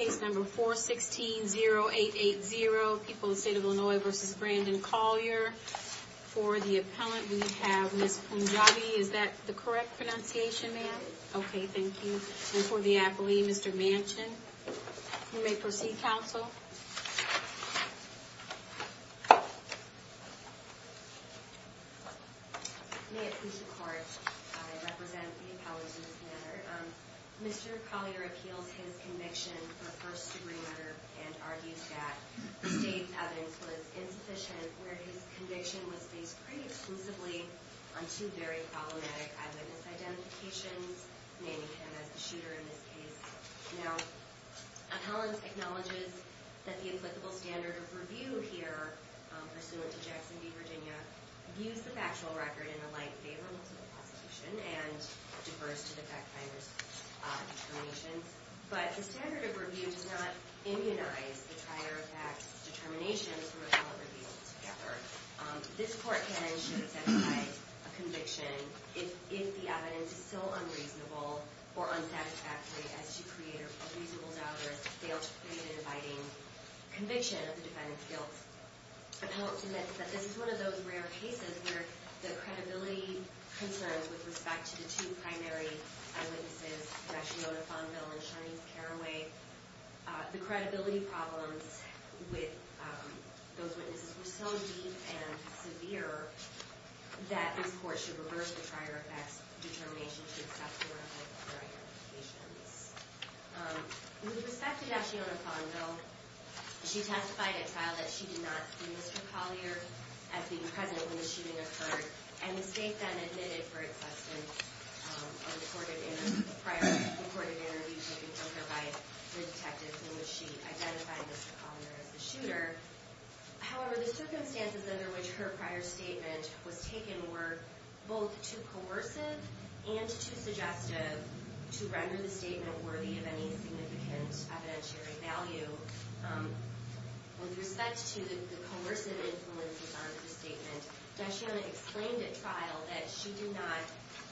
416-0880, People of the State of Illinois v. Brandon Collier. For the appellant, we have Ms. Punjabi. Is that the correct pronunciation, ma'am? Okay, thank you. And for the appellee, Mr. Manchin. You may proceed, counsel. May it please the court, I represent the appellant's matter. Mr. Collier appeals his conviction for first degree murder and argues that the state's evidence was insufficient where his conviction was based pretty exclusively on two very problematic eyewitness identifications, naming him as the shooter in this case. Now, appellant acknowledges that the applicable standard of review here, pursuant to Jackson v. Virginia, views the factual record in a light favorable to the prosecution and differs to the fact finder's determination, but the standard of review does not immunize the prior fact's determination from appellant reviews together. This court can and should incentivize a conviction if the evidence is still unreasonable or unsatisfactory as to create a reasonable doubt or as to fail to create an abiding conviction of the defendant's guilt. Appellant submits that this is one of those rare cases where the credibility concerns with respect to the two primary eyewitnesses, Dr. Yonah Fonville and Sharnice Caraway, the credibility problems with those witnesses were so deep and severe that this court should reverse the prior fact's determination to accept one of their identifications. With respect to Yonah Fonville, she testified at trial that she did not see Mr. Collier as being present when the shooting occurred, and the state then admitted for acceptance a prior recorded interview taken from her by the detective in which she identified Mr. Collier as the shooter. However, the circumstances under which her prior statement was taken were both too coercive and too suggestive to render the statement worthy of any significant evidentiary value. With respect to the coercive influences on her statement, Dashiana explained at trial that she did not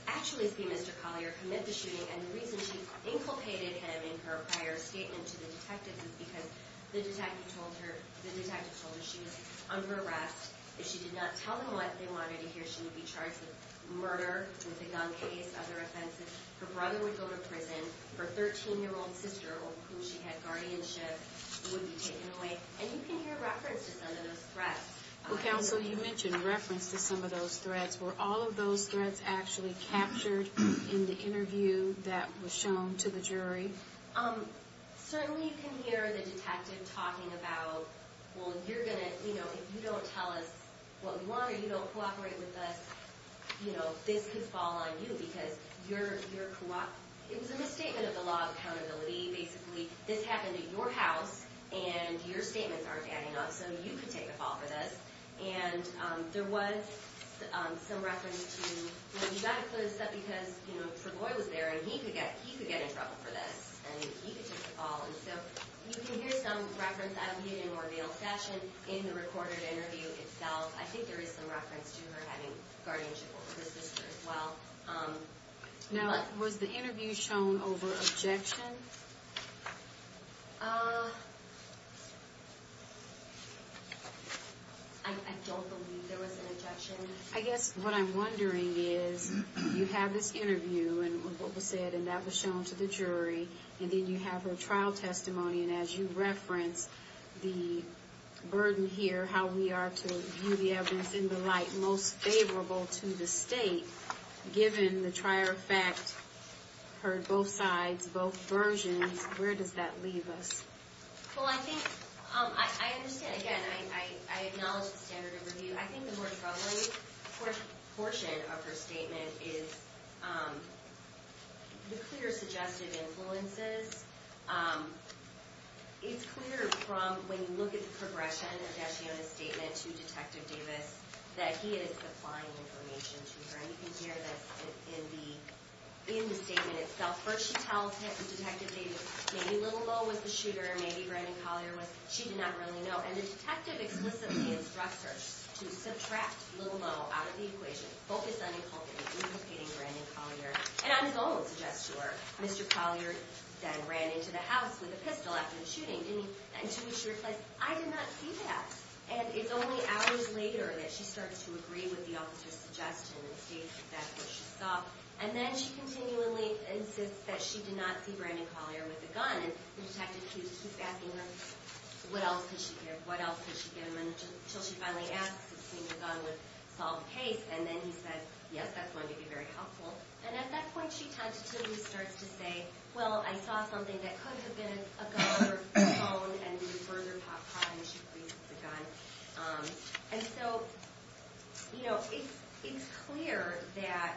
actually see Mr. Collier commit the shooting, and the reason she inculcated him in her prior statement to the detectives is because the detective told her she was under arrest. If she did not tell them what they wanted to hear, she would be charged with murder, with a gun case, other offenses. Her brother would go to prison. Her 13-year-old sister, of whom she had guardianship, would be taken away. And you can hear reference to some of those threats. Well, counsel, you mentioned reference to some of those threats. Were all of those threats actually captured in the interview that was shown to the jury? Certainly you can hear the detective talking about, well, you're going to, you know, if you don't tell us what we want or you don't cooperate with us, you know, this could fall on you because you're, it was a misstatement of the law of accountability. Basically, this was a misstatement of the law of accountability. So you could take a fall for this. And there was some reference to, you know, you've got to clear this up because, you know, Travoy was there and he could get in trouble for this, and he could take a fall. And so you can hear some reference, albeit in more veiled fashion, in the recorded interview itself. I think there is some reference to her having guardianship over her sister as well. Now, was the interview shown over objection? I don't believe there was an objection. I guess what I'm wondering is, you have this interview and what was said, and that was shown to the jury, and then you have her trial testimony, and as you reference the burden here, how we are to view the evidence in the light most favorable to the state, given the versions, where does that leave us? Well, I think, I understand, again, I acknowledge the standard of review. I think the more troubling portion of her statement is the clear, suggestive influences. It's clear from, when you look at the progression of Dashiona's statement to Detective Davis, that he is supplying information to her, and you can hear this in the statement itself. First she tells him, Detective Davis, maybe Little Mo was the shooter, maybe Brandon Collier was, she did not really know. And the detective explicitly instructs her to subtract Little Mo out of the equation, focus on inculcating Brandon Collier, and on his own suggests to her, Mr. Collier then ran into the house with a pistol after the shooting, and to which she replies, I did not see that. And it's only hours later that she starts to agree with the officer's suggestion and states that that's what she saw, and then she continually insists that she did not see Brandon Collier with a gun, and the detective keeps asking her, what else could she give him until she finally asks if cleaning a gun would solve the case, and then he says, yes, that's going to be very helpful. And at that point she tentatively starts to say, well, I saw something that could have been a gun or a phone, and we would further talk about how she agrees with the gun. And so, you know, it's clear that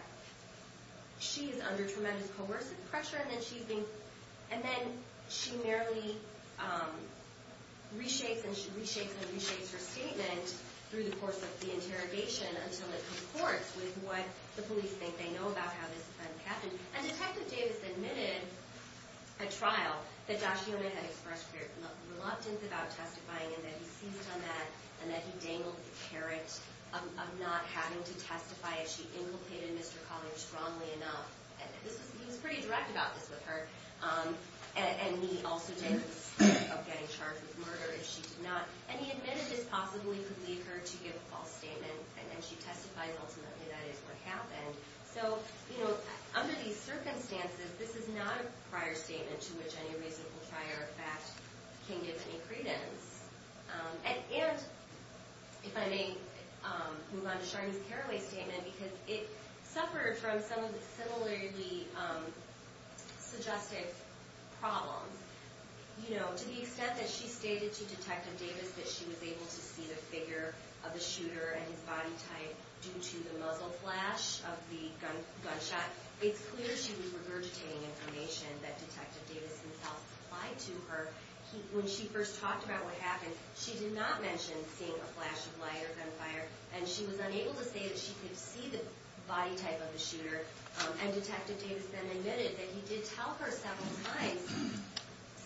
she is under tremendous coercive pressure, and then she merely reshapes and reshapes and reshapes her statement through the course of the interrogation until it concords with what the police think they know about how this event happened. And Detective Davis admitted at trial that Dashiell May had expressed reluctance about testifying and that he seized on that, and that he dangled the carrot of not having to testify if she inculcated Mr. Collier strongly enough. He was pretty direct about this with her, and he also stated the risk of getting charged with murder if she did not. And he admitted this possibly could lead her to give a false statement, and she testifies ultimately that is what happened. So, you know, under these circumstances, this is not a prior statement to which any reasonable prior fact can give any credence. And if I may move on to Sharni's Carraway statement, because it suffered from some of the similarly suggestive problems. You know, to the extent that she stated to Detective Davis that she was able to see the figure of the shooter and his body type due to the muzzle flash of the gunshot, it's clear she was regurgitating information that Detective Davis himself supplied to her. When she first talked about what happened, she did not mention seeing a flash of light or gunfire, and she was unable to say that she could see the body type of the shooter. And Detective Davis then admitted that he did tell her several times,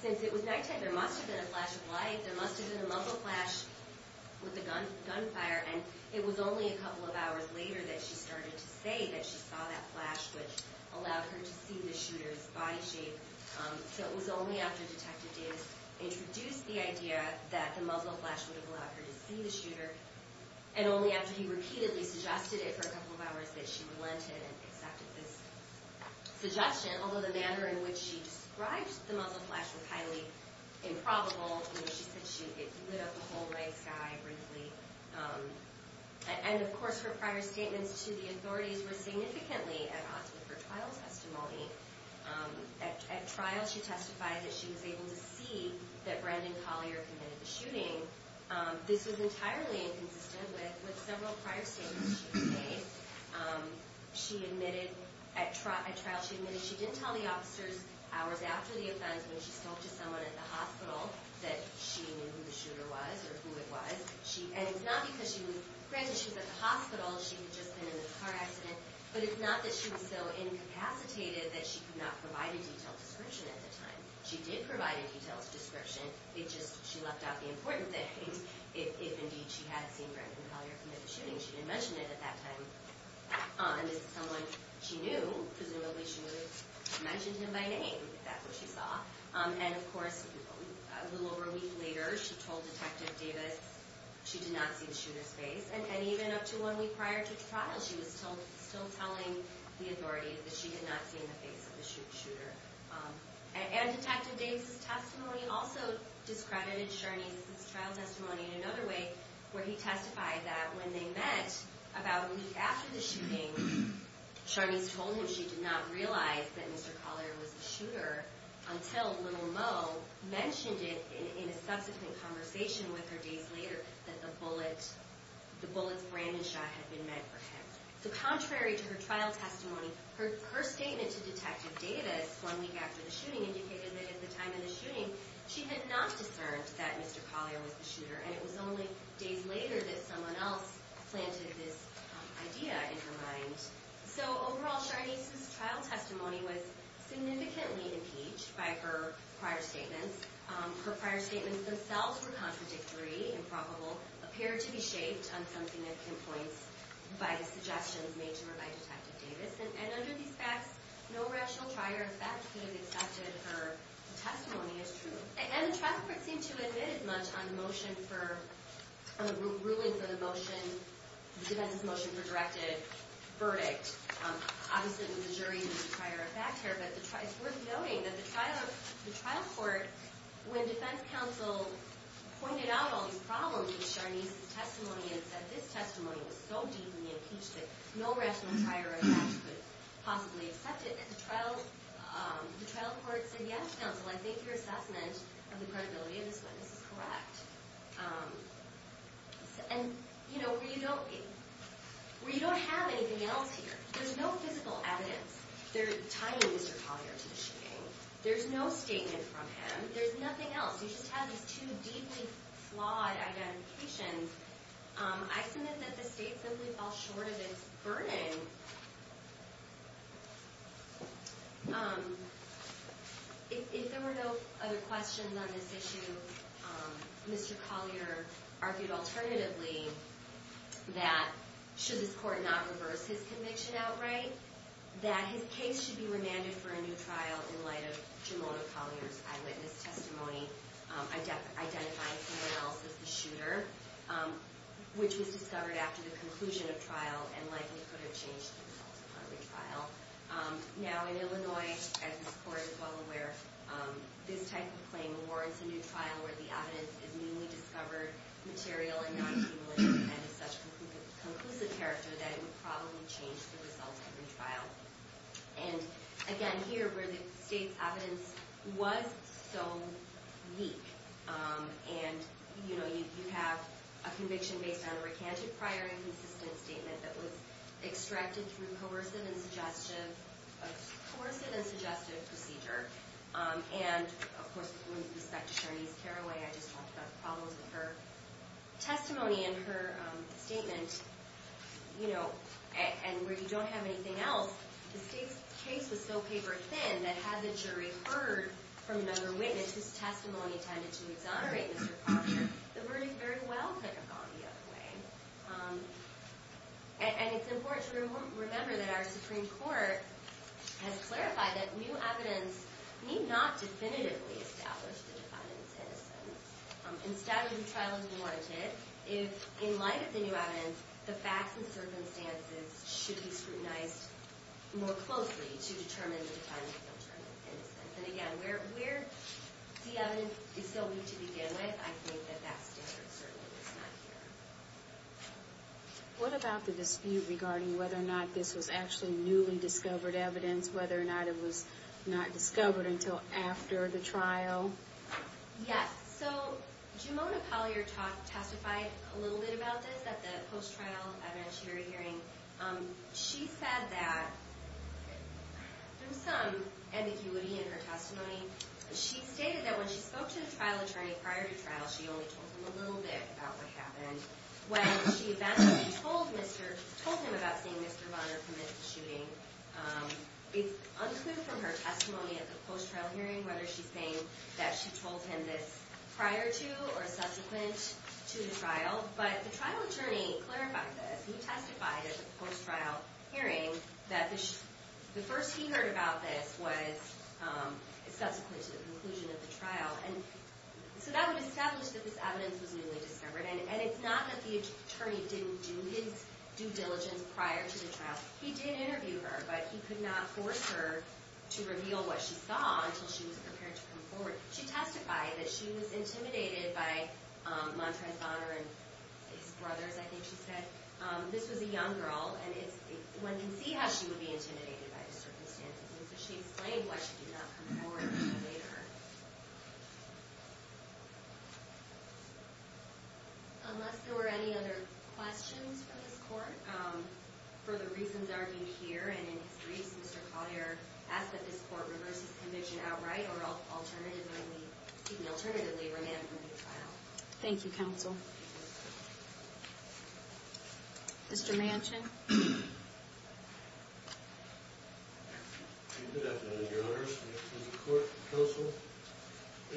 since it was nighttime, there must have been a flash of light, there must have been a muzzle flash with the gunfire, and it was only a couple of hours later that she started to say that she saw that flash which allowed her to see the shooter's body shape. So it was only after Detective Davis introduced the idea that the muzzle flash would have allowed her to see the shooter, and only after he repeatedly suggested it for a couple of hours that she relented and she described the muzzle flash with highly improbable, you know, she said she lit up a whole red sky briefly. And of course her prior statements to the authorities were significantly at odds with her trial testimony. At trial she testified that she was able to see that Brandon Collier committed the shooting. This was entirely inconsistent with several prior statements she made. She admitted, at trial she admitted she didn't tell the officers hours after the offense when she spoke to someone at the hospital that she knew who the shooter was or who it was. And it's not because she was, granted she was at the hospital, she had just been in a car accident, but it's not that she was so incapacitated that she could not provide a detailed description at the time. She did provide a detailed description, it just, she left out the important things. If indeed she had seen Brandon Collier commit the shooting, she didn't mention it at that time. And if it's someone she knew, presumably she would have mentioned him by name, if that's what she saw. And of course, a little over a week later, she told Detective Davis she did not see the shooter's face. And even up to one week prior to the trial, she was still telling the authorities that she had not seen the face of the shooter. And Detective Davis' testimony also discredited Charnese's trial testimony in another way, where he testified that when they met about a week after the shooting, Charnese told him she did not realize that Mr. Collier was the shooter until Little Mo mentioned it in a subsequent conversation with her days later, that the bullets Brandon shot had been meant for him. So contrary to her trial testimony, her statement to Detective Davis one week after the shooting indicated that at the time of the shooting she had not discerned that Mr. Collier was the shooter, and it was only days later that someone else planted this idea in her mind. So overall, Charnese's trial testimony was significantly impeached by her prior statements. Her prior statements themselves were contradictory, improbable, appear to be shaped on something that can point by the suggestions made to her by Detective Davis. And under these facts, no rational trier of fact could have accepted her testimony as true. And the trial court seemed to admit as much on the ruling for the motion, the defense's motion for directed verdict. Obviously, there's a jury and a trier of fact here, but it's worth noting that the trial court, when defense counsel pointed out all these problems in Charnese's testimony and said, this testimony was so deeply impeached that no rational trier of fact could possibly accept it, the trial court said, yes, counsel, I think your assessment of the credibility of this witness is correct. And, you know, where you don't have anything else here, there's no physical evidence tying Mr. Collier to the shooting. There's no statement from him. There's nothing else. You just have these two deeply flawed identifications. I submit that the state simply fell short of its burden. If there were no other questions on this issue, Mr. Collier argued alternatively that should this court not have, in light of Jamona Collier's eyewitness testimony, identified someone else as the shooter, which was discovered after the conclusion of trial and likely could have changed the results of her retrial. Now, in Illinois, as this court is well aware, this type of claim warrants a new trial where the evidence is newly discovered, material, and not cumulative and has such conclusive character that it would probably change the results of retrial. And, again, here where the state's evidence was so weak, and, you know, you have a conviction based on a recanted prior inconsistent statement that was extracted through coercive and suggestive procedure. And, of course, with respect to Sharnese Carraway, I just talked about problems with her testimony and her statement, you know, and where you don't have anything else, the state's case was so paper thin that had the jury heard from another witness whose testimony tended to exonerate Mr. Carraway, the verdict very well could have gone the other way. And it's important to remember that our Supreme Court has clarified that new evidence need not definitively establish the defendant's innocence. Instead, a new trial is warranted if, in light of the new evidence, the facts and circumstances should be scrutinized more closely to determine the defendant's alternative innocence. And, again, where the evidence is so weak to begin with, I think that that standard certainly is not here. What about the dispute regarding whether or not this was actually newly discovered evidence, whether or not it was not in the trial? Yes. So, Jimona Pollier testified a little bit about this at the post-trial evidence hearing. She said that there was some ambiguity in her testimony. She stated that when she spoke to the trial attorney prior to trial, she only told him a little bit about what happened. When she eventually told him about seeing Mr. Bonner commit the shooting, it's unclear from her testimony at the hearing that she told him this prior to or subsequent to the trial. But the trial attorney clarified this. He testified at the post-trial hearing that the first he heard about this was subsequent to the conclusion of the trial. And so that would establish that this evidence was newly discovered. And it's not that the attorney didn't do his due diligence prior to the trial. He did interview her, but he could not force her to reveal what she saw until she was prepared to come forward. She testified that she was intimidated by Montrez Bonner and his brothers, I think she said. This was a young girl, and one can see how she would be intimidated by the circumstances. And so she explained why she did not come forward to debate her. Unless there were any other questions for this court, for the reasons argued here and in his briefs, Mr. Collier asked that this court reverse his conviction outright or alternatively remand him to the trial. Thank you, counsel. Mr. Manchin. Good afternoon, your honors. This is the court and counsel.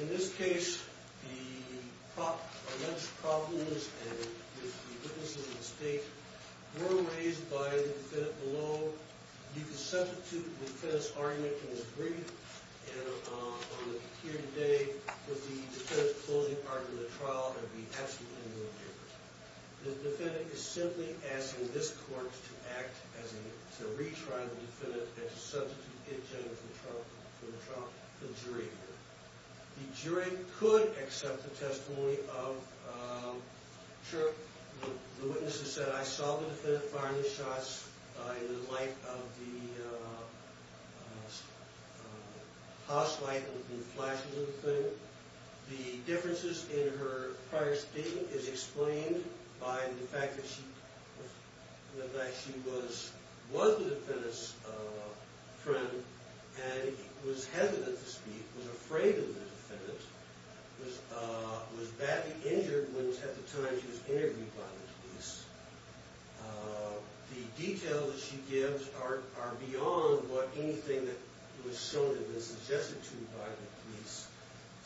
In this case, the alleged problems and the witnesses at stake were raised by the defendant below. You can substitute the defendant's argument in his brief. And here today is the defendant's closing argument in the trial. It would be absolutely null and void. The defendant is simply asking this court to act as a retrial defendant and to substitute in general for the jury. The jury could accept the testimony of, sure, the witnesses said, I saw the defendant firing the shots in the light of the house light and the flashes of the thing. The differences in her prior statement is explained by the fact that she was the defendant's friend and was hesitant to speak, was afraid of the defendant, was badly injured at the time she was interviewed by the police. The details that she gives are beyond what anything that was shown in this suggested to by the police.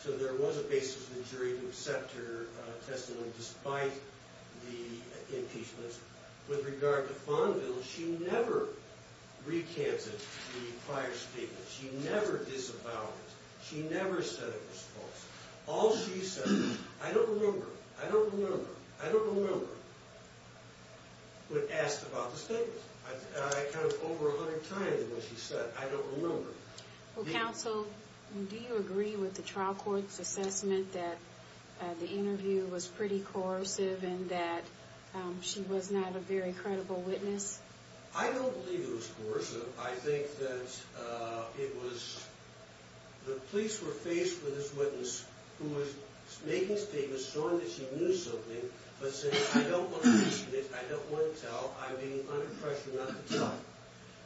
So there was a basis for the jury to accept her testimony despite the impeachment. With regard to Fonville, she never recanted the prior statement. She never disavowed it. She never said it was false. All she said, I don't remember, I don't remember, I don't remember, when asked about the statement. I kind of over 100 times what she said, I don't remember. Well, counsel, do you agree with the trial court's assessment that the interview was pretty coercive and that she was not a very credible witness? I don't believe it was coercive. I think that it was, the police were faced with this witness who was making statements showing that she knew something, but said, I don't want to listen to this, I don't want to tell, I'm being under pressure not to tell.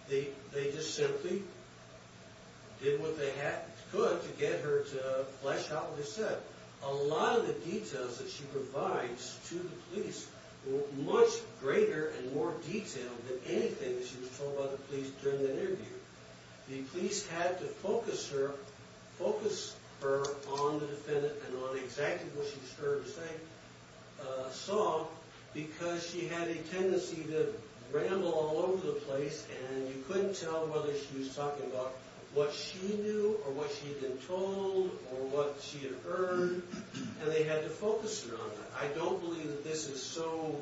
They just simply did what they could to get her to flesh out what they said. A lot of the details that she provides to the police were much greater and more detailed than anything that she was told by the police during the interview. The police had to focus her, focus her on the defendant and on exactly what she was trying to say, saw, because she had a tendency to ramble all over the place, and you couldn't tell whether she was talking about what she knew or what she had been told or what she had heard, and they had to focus her on that. I don't believe that this is so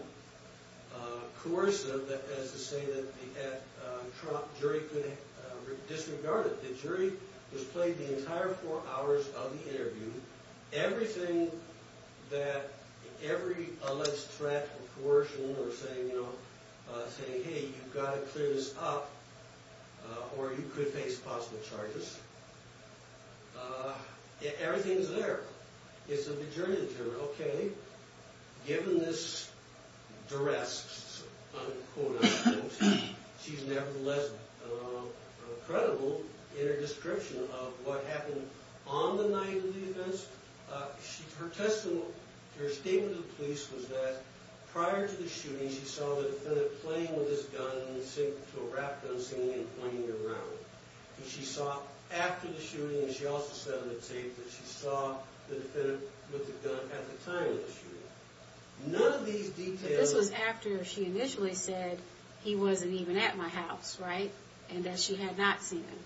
coercive as to say that the Trump jury could have disregarded it. The jury was played the entire four hours of the interview. Everything that every alleged threat of coercion or saying, you know, saying, hey, you've got to clear this up, or you could face possible charges, everything's there. It's the jury of the jury. Okay, given this duress, she's nevertheless credible in her description of what happened on the night of the events, her testimony, her statement to the police was that prior to the shooting, she saw the defendant playing with his gun to a rap gun scene and pointing it around, and she saw after the shooting, and she also said on the tape that she saw the defendant with the gun at the time of the shooting. None of these details... But this was after she initially said he wasn't even at my house, right, and that she had not seen him.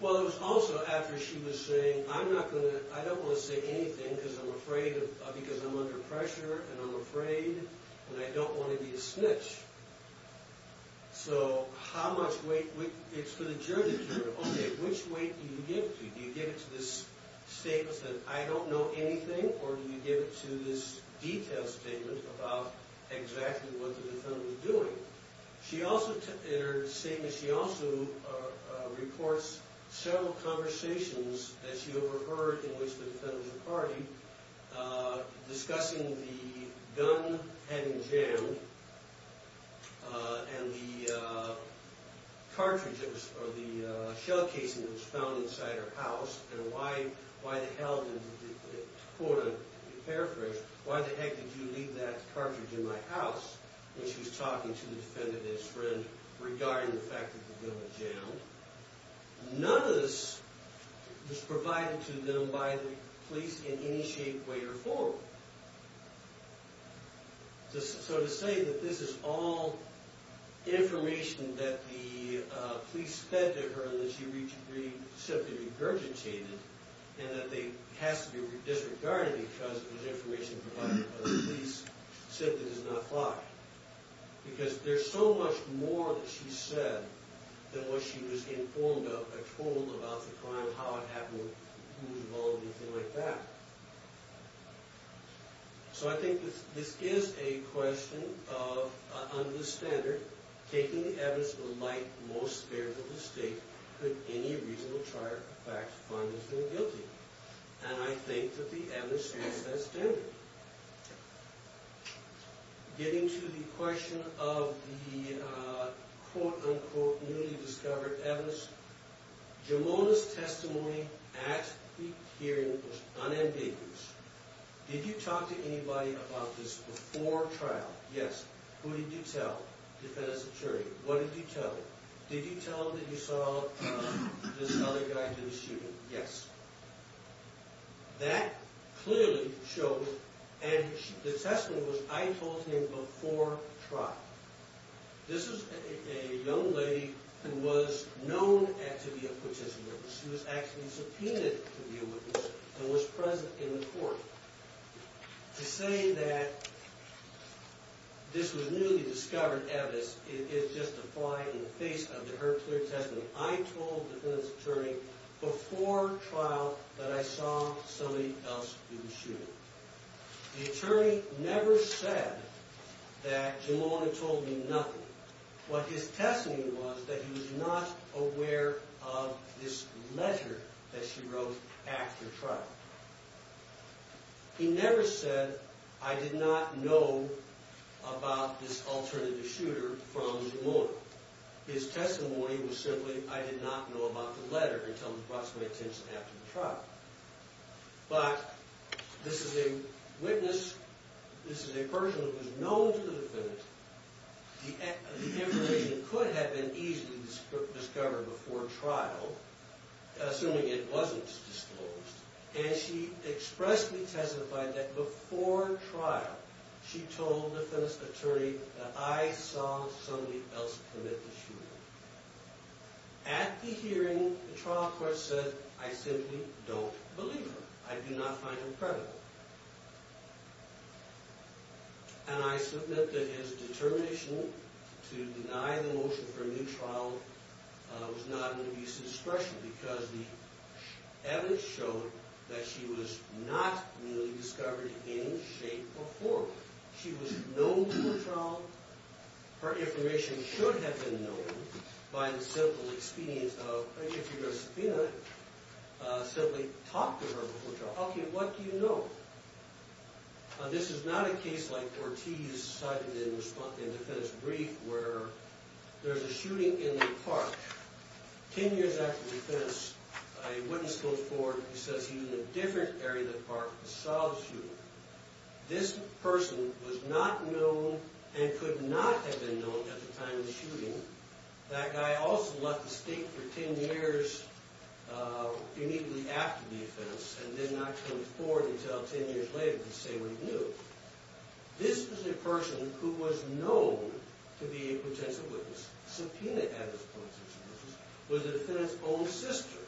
Well, it was also after she was saying, I'm not going to... I don't want to say anything because I'm afraid of... because I'm under pressure and I'm afraid and I don't want to be a snitch. So how much weight... It's for the jury of the jury. Okay, which weight do you give to? Do you give it to this statement that I don't know anything, or do you give it to this detailed statement about exactly what the defendant was doing? She also, in her statement, she also reports several conversations that she overheard in which the defendant was a party, discussing the gun having jammed and the cartridges or the shell casing that was found inside her house and why the hell did, to quote a paraphrase, why the heck did you leave that cartridge in my house? And she was talking to the defendant and his friend regarding the fact that the gun was jammed. None of this was provided to them by the police in any shape, way, or form. So to say that this is all information that the police fed to her and that she simply regurgitated and that it has to be disregarded because it was information provided by the police simply does not apply. Because there's so much more that she said than what she was informed of or told about the crime, how it happened, who was involved, anything like that. So I think this is a question of, under the standard, taking the evidence of the light most spared for the state, could any reasonable charge of fact find this man guilty? And I think that the evidence speaks to that standard. Getting to the question of the quote-unquote newly discovered evidence, Jamona's testimony at the hearing was unambiguous. Did you talk to anybody about this before trial? Yes. Who did you tell? Defendant's attorney. What did you tell them? Did you tell them that you saw this other guy do the shooting? Yes. That clearly shows, and the testimony was, I told him before trial. This is a young lady who was known to be a participant. She was actually subpoenaed to be a witness and was present in the court. To say that this was newly discovered evidence is just a fly in the face of her clear testimony. I told the defendant's attorney before trial that I saw somebody else do the shooting. The attorney never said that Jamona told me nothing. What his testimony was that he was not aware of this measure that she wrote after trial. He never said, I did not know about this alternative shooter from Jamona. His testimony was simply, I did not know about the letter until it was brought to my attention after the trial. But this is a witness, this is a person who is known to the defendant. The information could have been easily discovered before trial, assuming it wasn't disclosed. And she expressly testified that before trial, she told the defendant's attorney that I saw somebody else commit the shooting. At the hearing, the trial court said, I simply don't believe her. I do not find her credible. And I submit that his determination to deny the motion for a new trial was not an abuse of discretion because the evidence showed that she was not newly discovered in any shape or form. She was known before trial. Her information should have been known by the simple experience of, if you're a subpoena, simply talk to her before trial. Okay, what do you know? This is not a case like Ortiz cited in the defense brief, where there's a shooting in the park. Ten years after the defense, a witness goes forward and says he was in a different area of the park and saw the shooting. This person was not known and could not have been known at the time of the shooting. That guy also left the state for ten years immediately after the offense and did not come forward until ten years later to say what he knew. This was a person who was known to be a potential witness. Subpoena at this point was the defendant's own sister.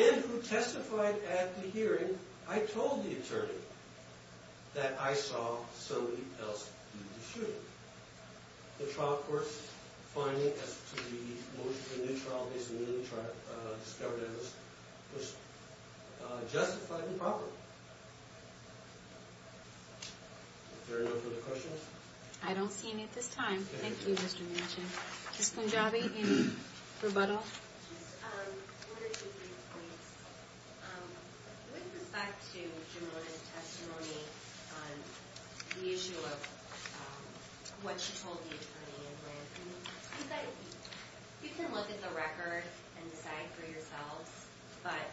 And who testified at the hearing, I told the attorney that I saw somebody else do the shooting. The trial court's finding as to the motion for a new trial was justified and proper. Is there any other questions? I don't see any at this time. Thank you, Mr. Manchin. Ms. Punjabi, any rebuttal? I wanted to make a point. With respect to Jerome's testimony on the issue of what she told the attorney You can look at the record and decide for yourselves, but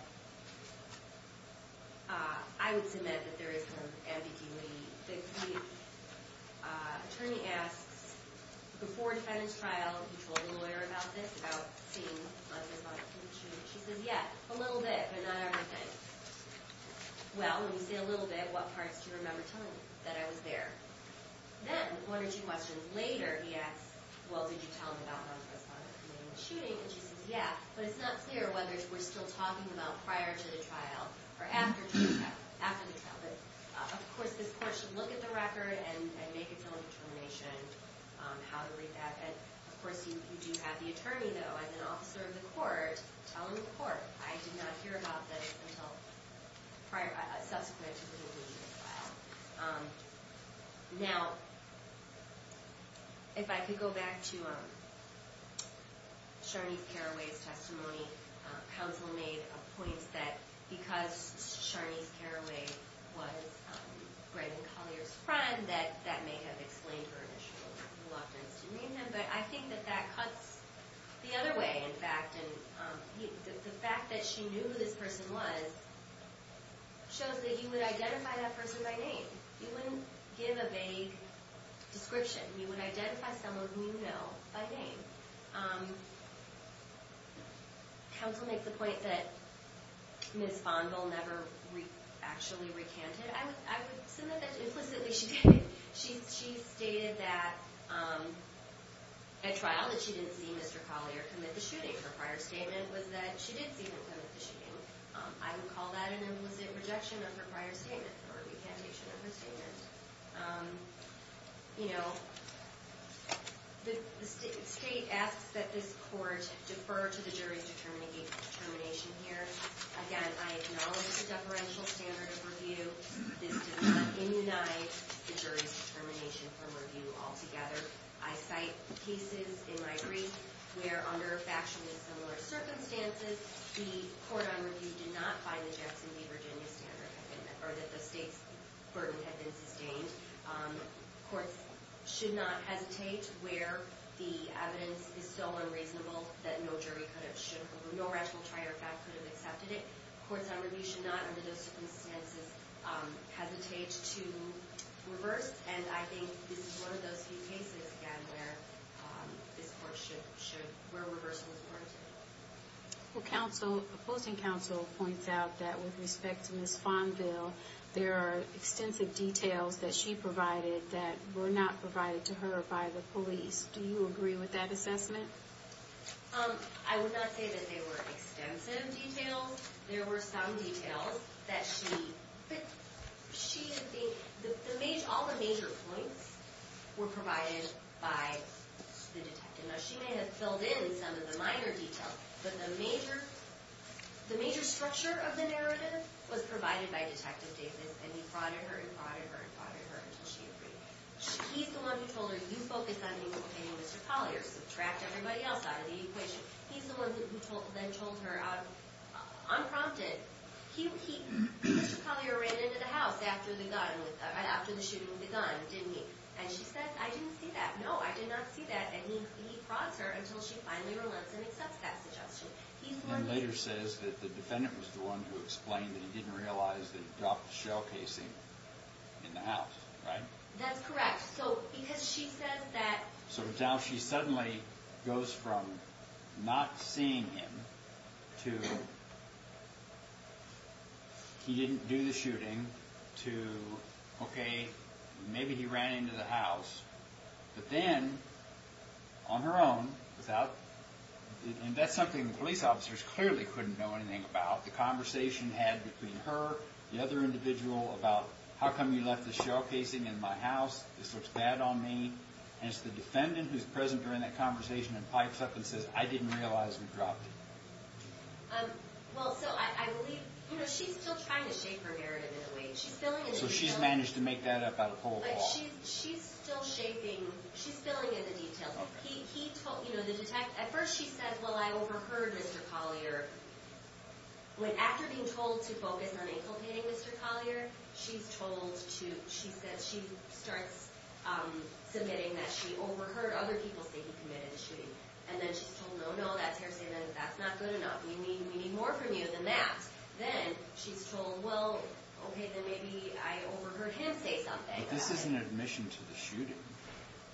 I would submit that there is some ambiguity. The attorney asks, before the defendant's trial, he told the lawyer about this, about seeing others on the shooting. She says, yeah, a little bit, but not everything. Well, when you say a little bit, what parts do you remember telling me? That I was there. Then, one or two questions later, he asks, well, did you tell them about how the respondent committed the shooting? And she says, yeah, but it's not clear whether we're still talking about prior to the trial or after the trial. But, of course, this court should look at the record and make its own determination on how to read that. And, of course, you do have the attorney, though, as an officer of the court, telling the court, I did not hear about this until subsequent to the conclusion of the trial. Now, if I could go back to Sharnice Carraway's testimony, counsel made a point that because Sharnice Carraway was Graydon Collier's friend, that that may have explained her initial reluctance to meet him. But I think that that cuts the other way, in fact. The fact that she knew who this person was shows that you would identify that person by name. You wouldn't give a vague description. You would identify someone whom you know by name. Counsel makes the point that Ms. Fonville never actually recanted. I would submit that implicitly she did. She stated that at trial that she didn't see Mr. Collier commit the shooting. Her prior statement was that she did see him commit the shooting. I would call that an implicit rejection of her prior statement, or recantation of her statement. The state asks that this court defer to the jury's determination here. Again, I acknowledge the deferential standard of review. This does not inunite the jury's determination from review altogether. I cite cases in my brief where, under factually similar circumstances, the court on review did not find the Jackson v. Virginia standard, or that the state's burden had been sustained. Courts should not hesitate where the evidence is so unreasonable that no jury could have, should have, or no rational trier of fact could have accepted it. Courts on review should not, under those circumstances, hesitate to reverse. And I think this is one of those few cases, again, where this court should, where reversal is warranted. Well, counsel, opposing counsel points out that, with respect to Ms. Fonville, there are extensive details that she provided that were not provided to her by the police. Do you agree with that assessment? I would not say that they were extensive details. There were some details that she, she, the, the major, all the major points were provided by the detective. Now, she may have filled in some of the minor details, but the major, the major structure of the narrative was provided by Detective Davis, and he prodded her and prodded her and prodded her until she agreed. He's the one who told her, you focus on me and Mr. Collier. Subtract everybody else out of the equation. He's the one who told, then told her, unprompted, he, he, Mr. Collier ran into the house after the gun, after the shooting with the gun, didn't he? And she said, I didn't see that. And he, he prods her until she finally relents and accepts that suggestion. He's the one who... And later says that the defendant was the one who explained that he didn't realize that he dropped the shell casing in the house, right? That's correct. So, because she says that... So, now she suddenly goes from not seeing him to, he didn't do the shooting, to, okay, maybe he ran into the house. But then, on her own, without, and that's something the police officers clearly couldn't know anything about. The conversation had between her, the other individual, about how come you left the shell casing in my house? This looks bad on me. And it's the defendant who's present during that conversation and pipes up and says, I didn't realize we dropped it. Well, so, I, I believe, you know, she's still trying to shape her narrative in a way. She's filling in the... But she's, she's still shaping, she's filling in the details. Okay. He, he told, you know, the detect, at first she said, well, I overheard Mr. Collier. When, after being told to focus on inculcating Mr. Collier, she's told to, she says, she starts submitting that she overheard other people say he committed the shooting. And then she's told, no, no, that's her saying that that's not good enough. We need, we need more from you than that. Then, she's told, well, okay, then maybe I overheard him say something. But this isn't admission to the shooting.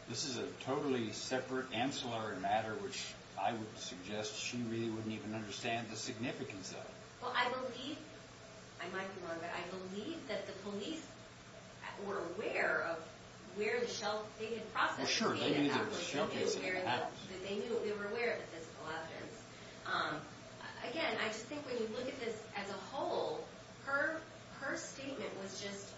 This is a totally separate, ancillary matter, which I would suggest she really wouldn't even understand the significance of. Well, I believe, I might be wrong, but I believe that the police were aware of where the shell, they had processed the case. Well, sure, they knew there was a shell case at the house. They knew, they were aware of the physical evidence. Again, I just think when you look at this as a whole, her statement was just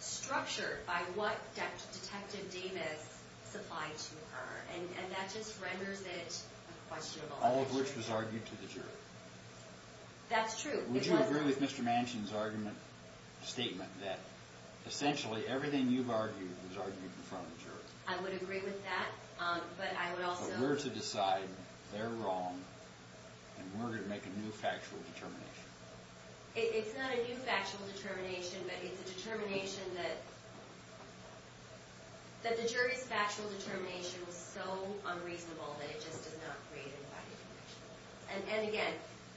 structured by what Detective Davis supplied to her. And that just renders it questionable. All of which was argued to the jury. That's true. Would you agree with Mr. Manchin's argument, statement, that essentially everything you've argued was argued in front of the jury? I would agree with that, but I would also. We're to decide, they're wrong, and we're going to make a new factual determination. It's not a new factual determination, but it's a determination that, that the jury's factual determination was so unreasonable that it just does not create an infighting conviction. And again,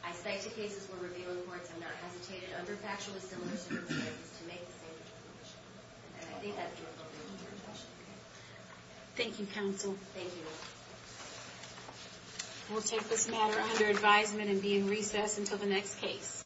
I cite the cases we're reviewing in courts. I'm not hesitating under factual dissimilarities to make the same determination. And I think that's the appropriate interpretation. Thank you, counsel. Thank you. We'll take this matter under advisement and be in recess until the next case.